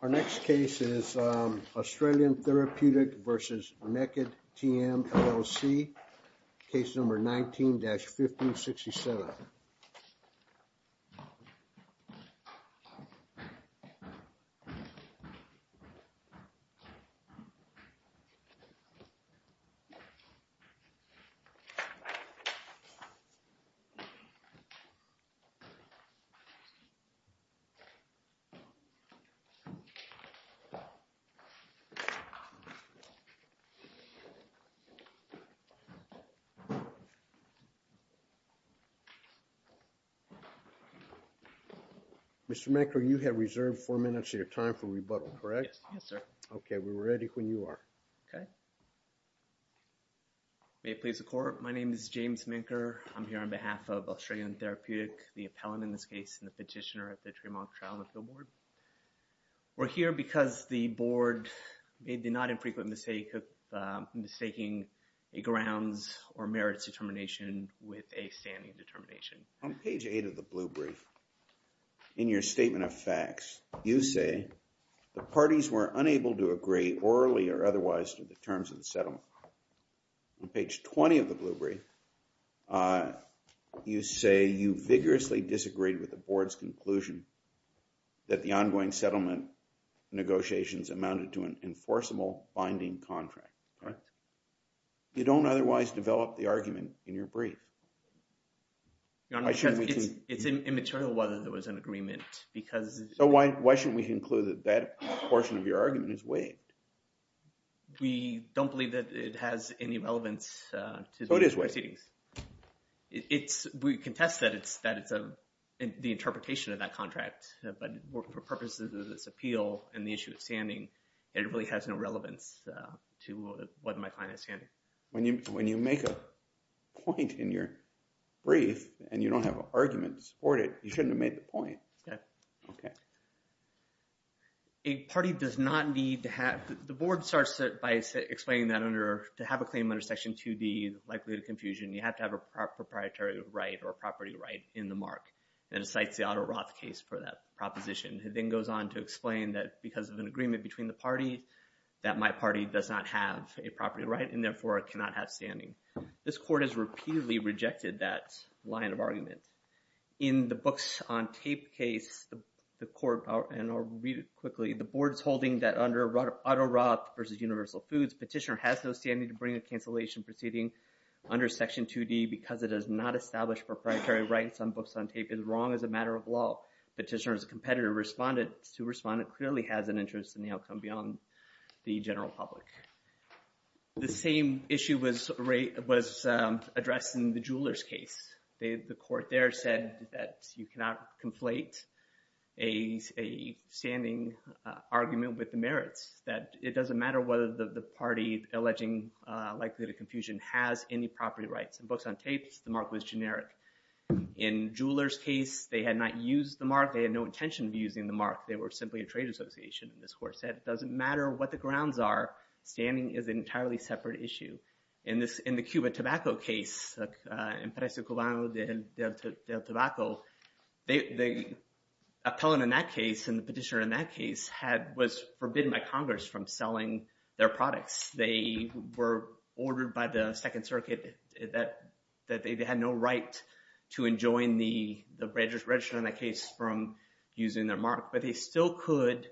Our next case is Australian Therapeutic v. Naked TM, LLC. Case number 19-1567. Mr. Minker, you have reserved four minutes of your time for rebuttal, correct? Yes, sir. Okay, we're ready when you are. Okay. May it please the court, my name is James Minker. I'm here on behalf of Australian Therapeutic, the appellant in this case, and the petitioner at the Tremont Trial and Appeal Board. We're here because the board made the not infrequent mistake of mistaking a grounds or merits determination with a standing determination. On page 8 of the blue brief, in your statement of facts, you say the parties were unable to agree orally or otherwise to the terms of the settlement. On page 20 of the blue brief, you say you vigorously disagreed with the board's conclusion that the ongoing settlement negotiations amounted to an enforceable binding contract. Correct? You don't otherwise develop the argument in your brief. Your Honor, it's immaterial whether there was an agreement because… So why shouldn't we conclude that that portion of your argument is waived? We don't believe that it has any relevance to the proceedings. So it is waived? We contest that it's the interpretation of that contract, but for purposes of this appeal and the issue of standing, it really has no relevance to whether my client is standing. When you make a point in your brief and you don't have an argument to support it, you shouldn't have made the point. Okay. Okay. A party does not need to have… The board starts by explaining that to have a claim under Section 2D is likely to confusion. You have to have a proprietary right or a property right in the mark, and it cites the Otto Roth case for that proposition. It then goes on to explain that because of an agreement between the parties, that my party does not have a property right and therefore cannot have standing. In the Books on Tape case, the court… And I'll read it quickly. The board is holding that under Otto Roth v. Universal Foods, petitioner has no standing to bring a cancellation proceeding under Section 2D because it does not establish proprietary rights on Books on Tape. It is wrong as a matter of law. Petitioner is a competitive respondent. The respondent clearly has an interest in the outcome beyond the general public. The same issue was addressed in the Jewelers case. The court there said that you cannot conflate a standing argument with the merits, that it doesn't matter whether the party alleging likely to confusion has any property rights. In Books on Tape, the mark was generic. In Jewelers' case, they had not used the mark. They had no intention of using the mark. They were simply a trade association, and this court said it doesn't matter what the grounds are. Standing is an entirely separate issue. In the Cuba tobacco case, Empresa Cubano del Tobacco, the appellant in that case and the petitioner in that case was forbidden by Congress from selling their products. They were ordered by the Second Circuit that they had no right to enjoin the register in that case from using their mark. But they still could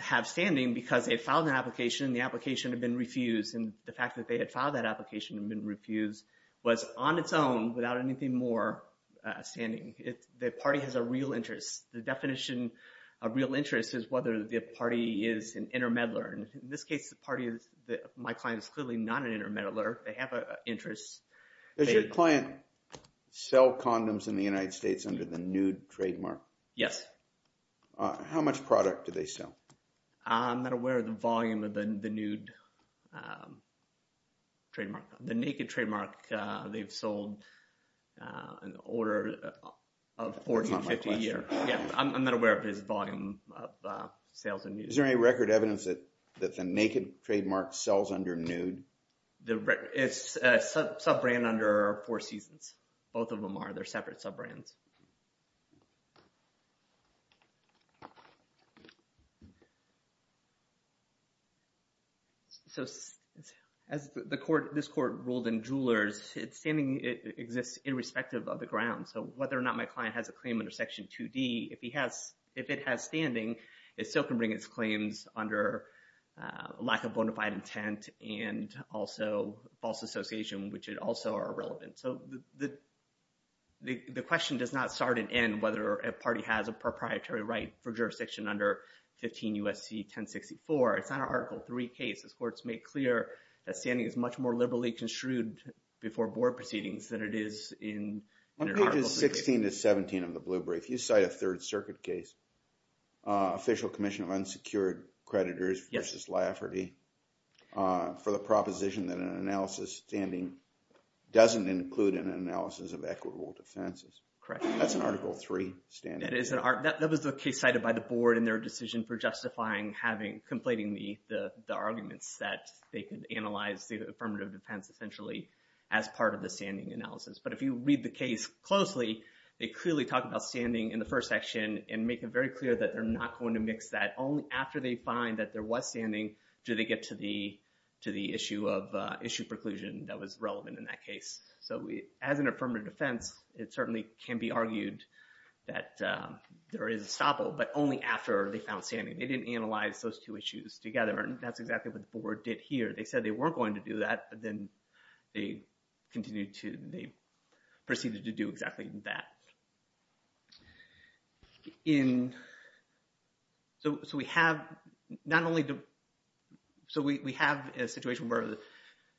have standing because they had filed an application, and the application had been refused. And the fact that they had filed that application and been refused was on its own without anything more standing. The party has a real interest. The definition of real interest is whether the party is an intermeddler. In this case, the party is my client is clearly not an intermeddler. They have an interest. Does your client sell condoms in the United States under the nude trademark? Yes. How much product do they sell? I'm not aware of the volume of the nude trademark. The naked trademark, they've sold an order of 40 to 50 a year. That's not my question. Yeah, I'm not aware of his volume of sales in nude. Is there any record evidence that the naked trademark sells under nude? It's a sub-brand under Four Seasons. Both of them are. They're separate sub-brands. So as this court ruled in Jewelers, standing exists irrespective of the grounds. So whether or not my client has a claim under Section 2D, if it has standing, it still can bring its claims under lack of bona fide intent and also false association, which also are irrelevant. So the question does not start and end whether a party has a proprietary right for jurisdiction under 15 U.S.C. 1064. It's not an Article 3 case. This court's made clear that standing is much more liberally construed before board proceedings than it is in Article 3. On pages 16 to 17 of the Blue Brief, you cite a Third Circuit case, Official Commission of Unsecured Creditors v. Lafferty, for the proposition that an analysis standing doesn't include an analysis of equitable defenses. That's an Article 3 standing. That was the case cited by the board in their decision for justifying having, conflating the arguments that they could analyze the affirmative defense essentially as part of the standing analysis. But if you read the case closely, they clearly talk about standing in the first section and make it very clear that they're not going to mix that. Only after they find that there was standing do they get to the issue of issue preclusion that was relevant in that case. So as an affirmative defense, it certainly can be argued that there is a stopple, but only after they found standing. They didn't analyze those two issues together, and that's exactly what the board did here. They said they weren't going to do that, but then they continued to, they proceeded to do exactly that. So we have a situation where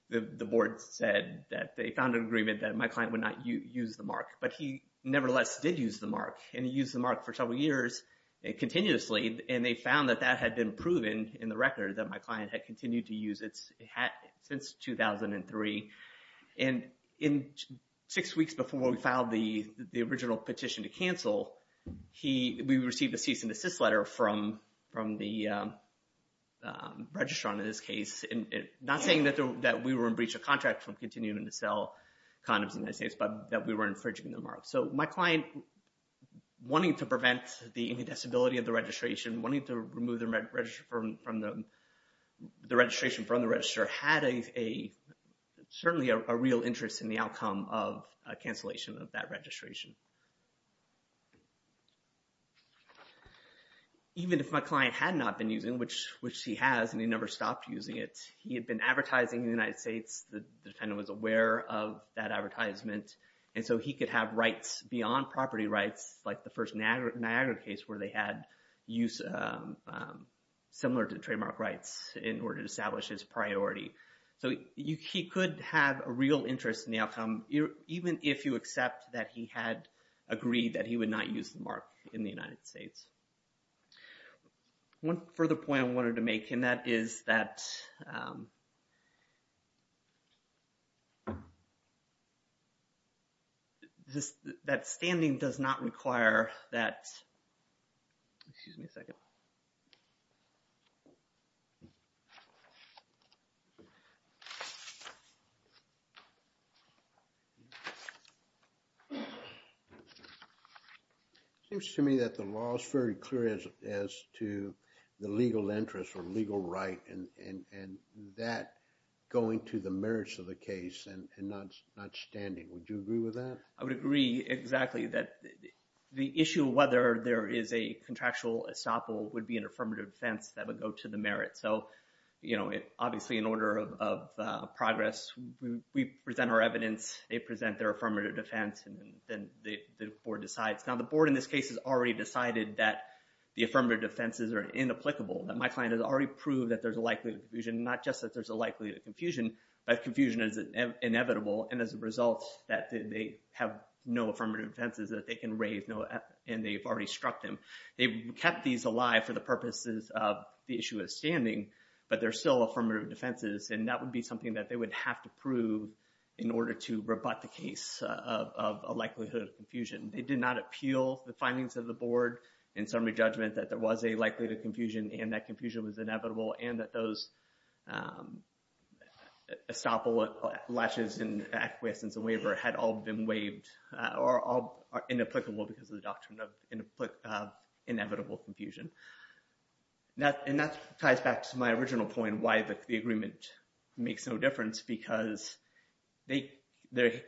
the board said that they found an agreement that my client would not use the mark, but he nevertheless did use the mark, and he used the mark for several years continuously, and they found that that had been proven in the record that my client had continued to use it since 2003. And in six weeks before we filed the original petition to cancel, we received a cease and desist letter from the registrar in this case, not saying that we were in breach of contract from continuing to sell condoms in the United States, but that we were infringing the mark. So my client, wanting to prevent the incontestability of the registration, wanting to remove the registration from the registrar, had certainly a real interest in the outcome of a cancellation of that registration. Even if my client had not been using, which he has, and he never stopped using it, he had been advertising in the United States. The defendant was aware of that advertisement, and so he could have rights beyond property rights, like the first Niagara case where they had use similar to trademark rights in order to establish his priority. So he could have a real interest in the outcome, even if you accept that he had agreed that he would not use the mark in the United States. One further point I wanted to make, and that is that standing does not require that – excuse me a second. It seems to me that the law is very clear as to the legal interest or legal right and that going to the merits of the case and not standing. Would you agree with that? I would agree exactly that the issue of whether there is a contractual estoppel would be an affirmative defense that would go to the merits. So obviously in order of progress, we present our evidence, they present their affirmative defense, and then the board decides. Now the board in this case has already decided that the affirmative defenses are inapplicable, that my client has already proved that there's a likelihood of confusion. That confusion is inevitable, and as a result that they have no affirmative defenses that they can raise, and they've already struck them. They've kept these alive for the purposes of the issue of standing, but they're still affirmative defenses, and that would be something that they would have to prove in order to rebut the case of a likelihood of confusion. They did not appeal the findings of the board in summary judgment that there was a likelihood of confusion and that confusion was inevitable, and that those estoppel, lashes, and acquiescence and waiver had all been waived or are inapplicable because of the doctrine of inevitable confusion. And that ties back to my original point why the agreement makes no difference because they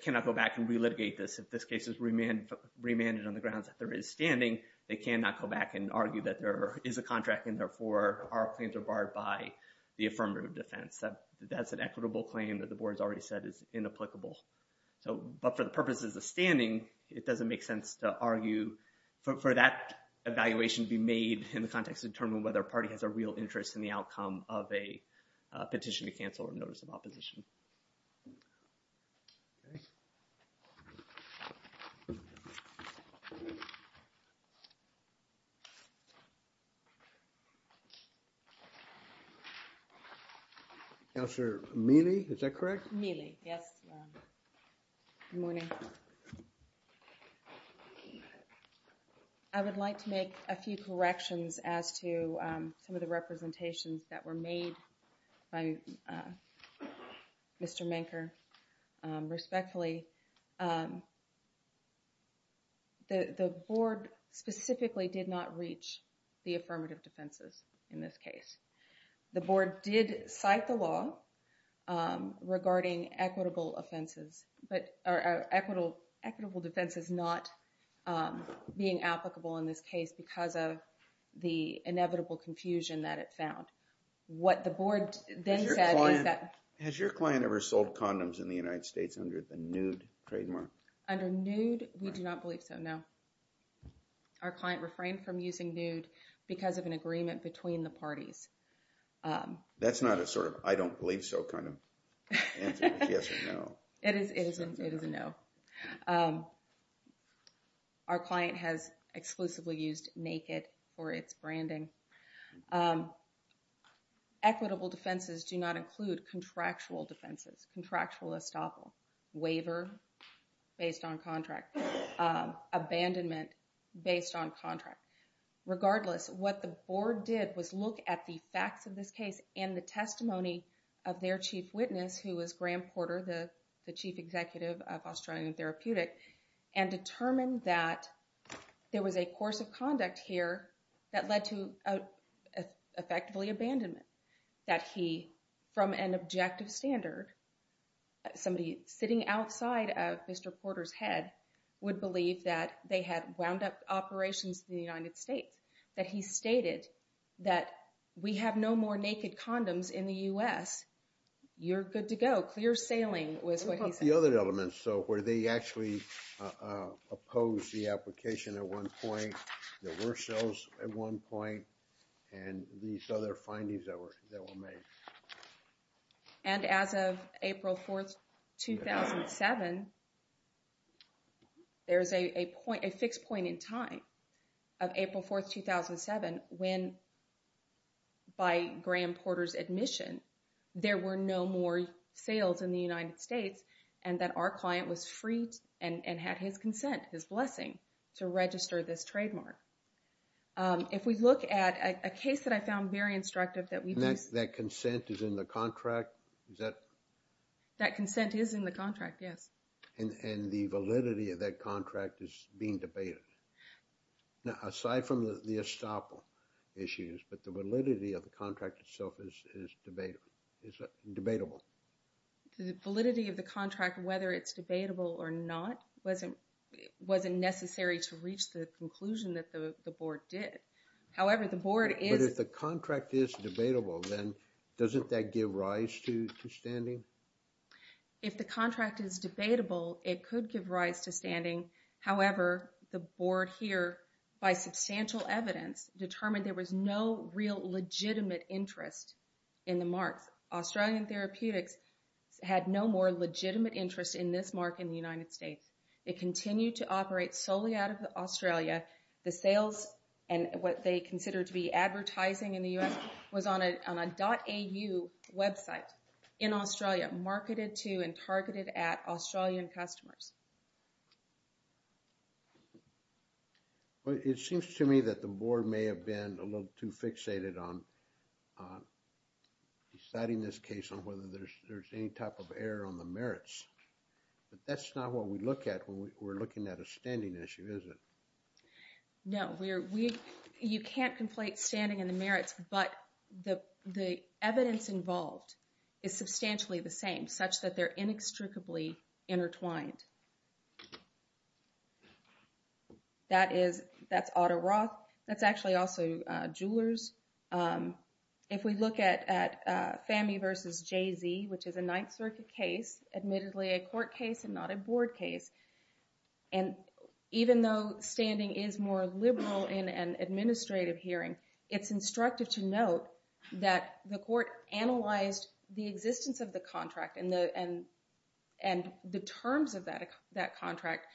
cannot go back and relitigate this. If this case is remanded on the grounds that there is standing, they cannot go back and argue that there is a contract, and therefore our claims are barred by the affirmative defense. That's an equitable claim that the board has already said is inapplicable. But for the purposes of standing, it doesn't make sense to argue for that evaluation to be made in the context of determining whether a party has a real interest in the outcome of a petition to cancel or notice of opposition. Thank you. Now, sir, Milly, is that correct? Milly? Yes. Good morning. I would like to make a few corrections as to some of the representations that were made by Mr. Menker. Respectfully, the board specifically did not reach the affirmative defenses in this case. The board did cite the law regarding equitable defenses not being applicable in this case because of the inevitable confusion that it found. What the board then said is that... Has your client ever sold condoms in the United States under the nude trademark? Under nude, we do not believe so, no. Our client refrained from using nude because of an agreement between the parties. That's not a sort of I don't believe so kind of answer, yes or no. It is a no. Our client has exclusively used naked for its branding. Equitable defenses do not include contractual defenses, contractual estoppel, waiver based on contract, abandonment based on contract. Regardless, what the board did was look at the facts of this case and the testimony of their chief witness, who was Graham Porter, the chief executive of Australian Therapeutic, and determined that there was a course of conduct here that led to effectively abandonment. That he, from an objective standard, somebody sitting outside of Mr. Porter's head, would believe that they had wound up operations in the United States. That he stated that we have no more naked condoms in the U.S., you're good to go. Clear sailing was what he said. The other elements, so where they actually opposed the application at one point, there were sales at one point, and these other findings that were made. And as of April 4th, 2007, there's a fixed point in time of April 4th, 2007, when by Graham Porter's admission, there were no more sales in the United States, and that our client was freed and had his consent, his blessing, to register this trademark. If we look at a case that I found very instructive that we've used... That consent is in the contract? That consent is in the contract, yes. And the validity of that contract is being debated? Aside from the estoppel issues, but the validity of the contract itself is debatable? The validity of the contract, whether it's debatable or not, wasn't necessary to reach the conclusion that the board did. However, the board is... But if the contract is debatable, then doesn't that give rise to standing? If the contract is debatable, it could give rise to standing. However, the board here, by substantial evidence, determined there was no real legitimate interest in the marks. Australian Therapeutics had no more legitimate interest in this mark in the United States. It continued to operate solely out of Australia. The sales and what they considered to be advertising in the U.S. was on a .au website in Australia, marketed to and targeted at Australian customers. It seems to me that the board may have been a little too fixated on deciding this case on whether there's any type of error on the merits. But that's not what we look at when we're looking at a standing issue, is it? No, you can't conflate standing and the merits, but the evidence involved is substantially the same, such that they're inextricably intertwined. That is, that's Otto Roth. That's actually also Jewelers. If we look at FAMI versus Jay-Z, which is a Ninth Circuit case, admittedly a court case and not a board case, and even though standing is more liberal in an administrative hearing, it's instructive to note that the court analyzed the existence of the contract and the terms of that contract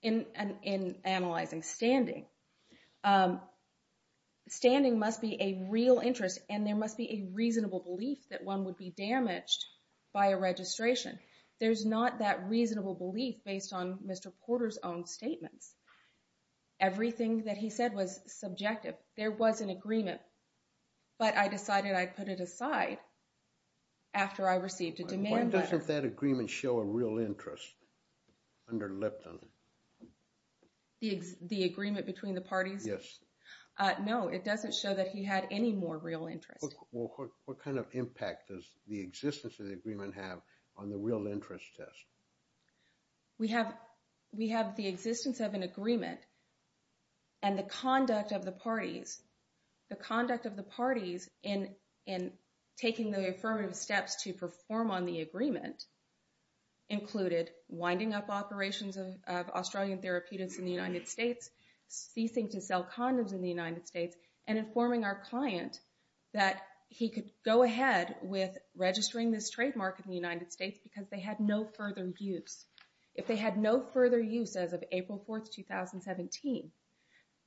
in analyzing standing. Standing must be a real interest, and there must be a reasonable belief that one would be damaged by a registration. There's not that reasonable belief based on Mr. Porter's own statements. Everything that he said was subjective. There was an agreement, but I decided I'd put it aside after I received a demand letter. Why doesn't that agreement show a real interest under Lipton? The agreement between the parties? Yes. No, it doesn't show that he had any more real interest. What kind of impact does the existence of the agreement have on the real interest test? We have the existence of an agreement and the conduct of the parties. The conduct of the parties in taking the affirmative steps to perform on the agreement included winding up operations of Australian therapeutics in the United States, ceasing to sell condoms in the United States, and informing our client that he could go ahead with registering this trademark in the United States because they had no further use. If they had no further use as of April 4th, 2017,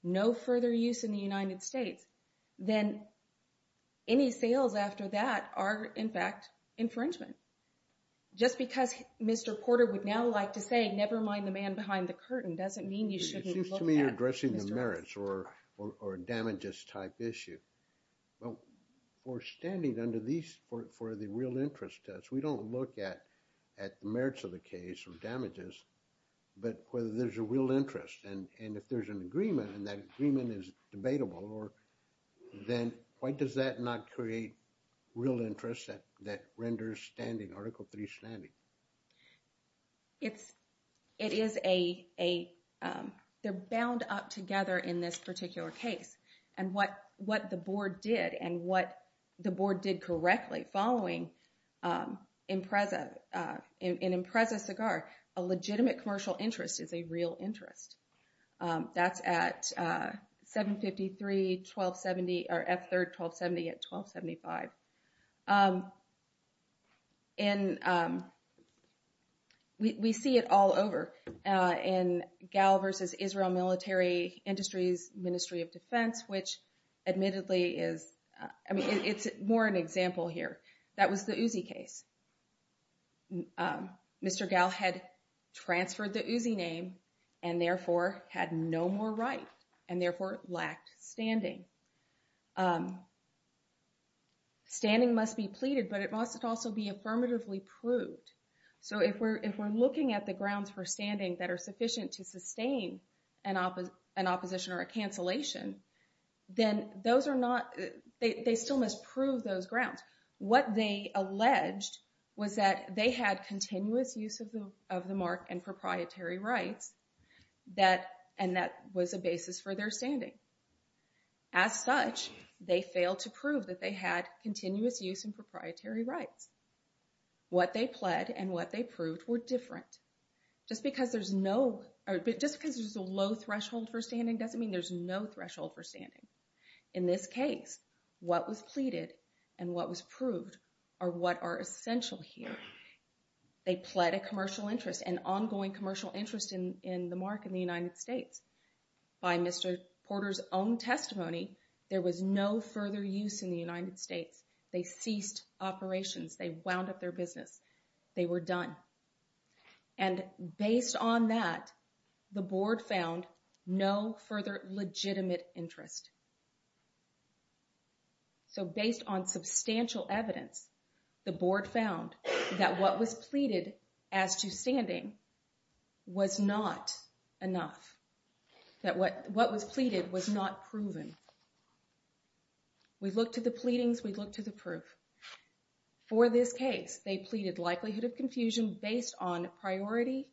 no further use in the United States, then any sales after that are, in fact, infringement. Just because Mr. Porter would now like to say, never mind the man behind the curtain, doesn't mean you shouldn't look at Mr. Porter. It seems to me you're addressing the merits or damages type issue. Well, for standing under these, for the real interest test, we don't look at the merits of the case or damages, but whether there's a real interest. And if there's an agreement and that agreement is debatable, then why does that not create real interest that renders standing, Article III standing? It is a, they're bound up together in this particular case. And what the board did and what the board did correctly following Impreza, in Impreza Cigar, a legitimate commercial interest is a real interest. That's at 753-1270, or F3-1270 at 1275. And we see it all over in GAL versus Israel Military Industries, Ministry of Defense, which admittedly is, I mean, it's more an example here. That was the Uzi case. Mr. GAL had transferred the Uzi name and therefore had no more right and therefore lacked standing. Standing must be pleaded, but it must also be affirmatively proved. So if we're looking at the grounds for standing that are sufficient to sustain an opposition or a cancellation, then those are not, they still must prove those grounds. What they alleged was that they had continuous use of the mark and proprietary rights that, and that was a basis for their standing. As such, they failed to prove that they had continuous use and proprietary rights. What they pled and what they proved were different. Just because there's no, just because there's a low threshold for standing doesn't mean there's no threshold for standing. In this case, what was pleaded and what was proved are what are essential here. They pled a commercial interest, an ongoing commercial interest in the mark in the United States. By Mr. Porter's own testimony, there was no further use in the United States. They ceased operations. They wound up their business. They were done. And based on that, the board found no further legitimate interest. So based on substantial evidence, the board found that what was pleaded as to standing was not enough. That what was pleaded was not proven. We looked at the pleadings. We looked at the proof. For this case, they pleaded likelihood of confusion based on priority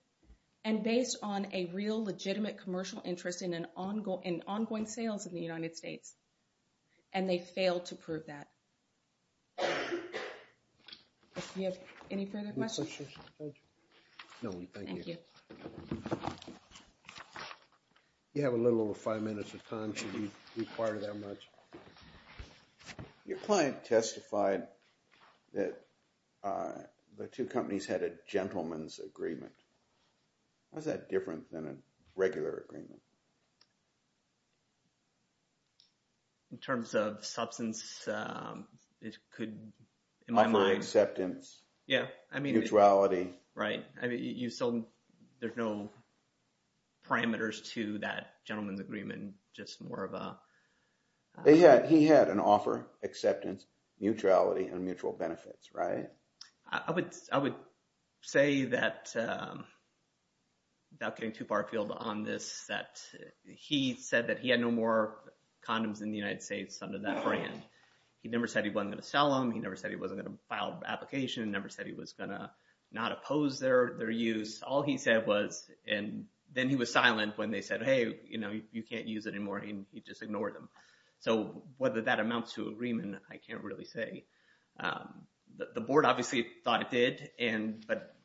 and based on a real legitimate commercial interest in ongoing sales in the United States, and they failed to prove that. Do you have any further questions? No, thank you. Thank you. You have a little over five minutes of time. Should we require that much? Your client testified that the two companies had a gentleman's agreement. How is that different than a regular agreement? In terms of substance, it could, in my mind— Offer acceptance. Yeah, I mean— Mutuality. Right. I mean, you still—there's no parameters to that gentleman's agreement, just more of a— He had an offer, acceptance, mutuality, and mutual benefits, right? I would say that, without getting too far afield on this, that he said that he had no more condoms in the United States under that brand. He never said he wasn't going to sell them. He never said he wasn't going to file an application. He never said he was going to not oppose their use. All he said was—and then he was silent when they said, hey, you can't use it anymore, and he just ignored them. So whether that amounts to agreement, I can't really say. The board obviously thought it did, and—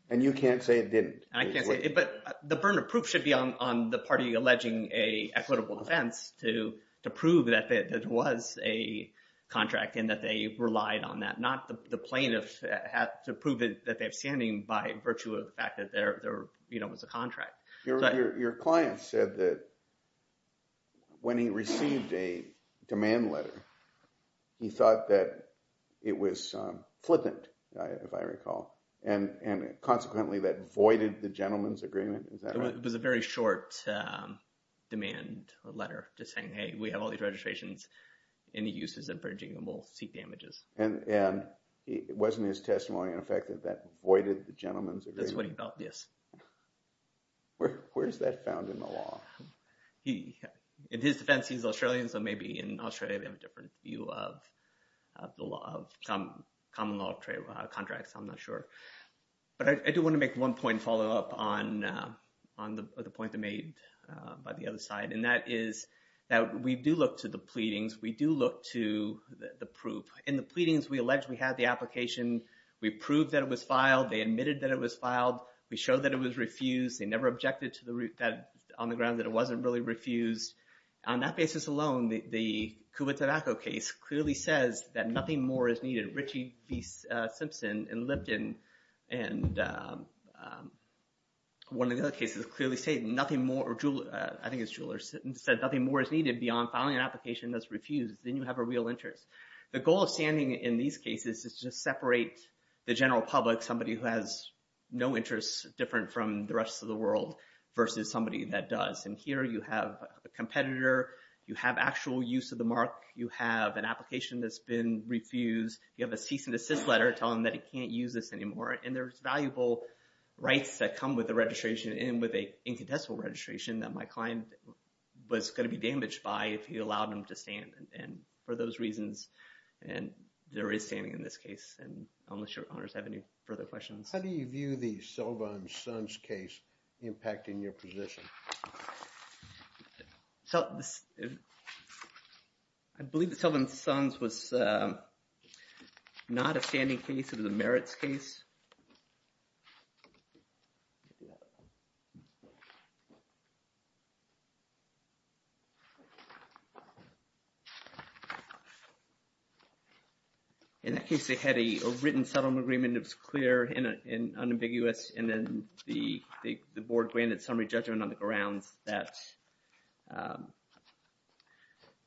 And you can't say it didn't. I can't say it—but the burden of proof should be on the party alleging an equitable defense to prove that it was a contract and that they relied on that, not the plaintiff to prove that they have standing by virtue of the fact that there was a contract. Your client said that when he received a demand letter, he thought that it was flippant, if I recall, and consequently that voided the gentleman's agreement. Is that right? It was a very short demand letter just saying, hey, we have all these registrations. Any use is infringing, and we'll see damages. And it wasn't his testimony in effect that that voided the gentleman's agreement? That's what he felt, yes. Where is that found in the law? In his defense, he's Australian, so maybe in Australia they have a different view of the law, of common law of trade contracts. I'm not sure. But I do want to make one point follow up on the point that was made by the other side, and that is that we do look to the pleadings. We do look to the proof. In the pleadings, we allege we had the application. We proved that it was filed. They admitted that it was filed. We showed that it was refused. They never objected on the ground that it wasn't really refused. On that basis alone, the Cuba tobacco case clearly says that nothing more is needed. Ritchie v. Simpson and Lipton and one of the other cases clearly say nothing more, or I think it's Jewellers, said nothing more is needed beyond filing an application that's refused. Then you have a real interest. The goal of standing in these cases is to separate the general public, somebody who has no interest different from the rest of the world versus somebody that does. And here you have a competitor. You have actual use of the mark. You have an application that's been refused. You have a cease and desist letter telling them that it can't use this anymore. And there's valuable rights that come with the registration and with an incontestable registration that my client was going to be damaged by if he allowed them to stand. And for those reasons, and there is standing in this case, and I'm not sure if others have any further questions. How do you view the Sullivan-Sons case impacting your position? I believe the Sullivan-Sons was not a standing case. It was a merits case. In that case, they had a written settlement agreement. It was clear and unambiguous. And then the board granted summary judgment on the grounds that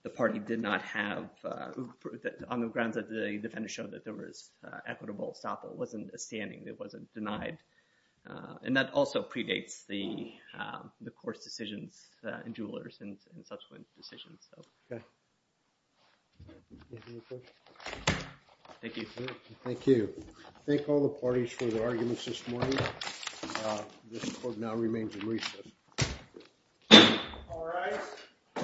the party did not have – on the grounds that the defendants showed that there was equitable stop. It wasn't a standing. It wasn't denied. And that also predates the court's decisions in Jewelers and subsequent decisions. Okay. Thank you. Thank you. Thank all the parties for their arguments this morning. This court now remains in recess. All rise.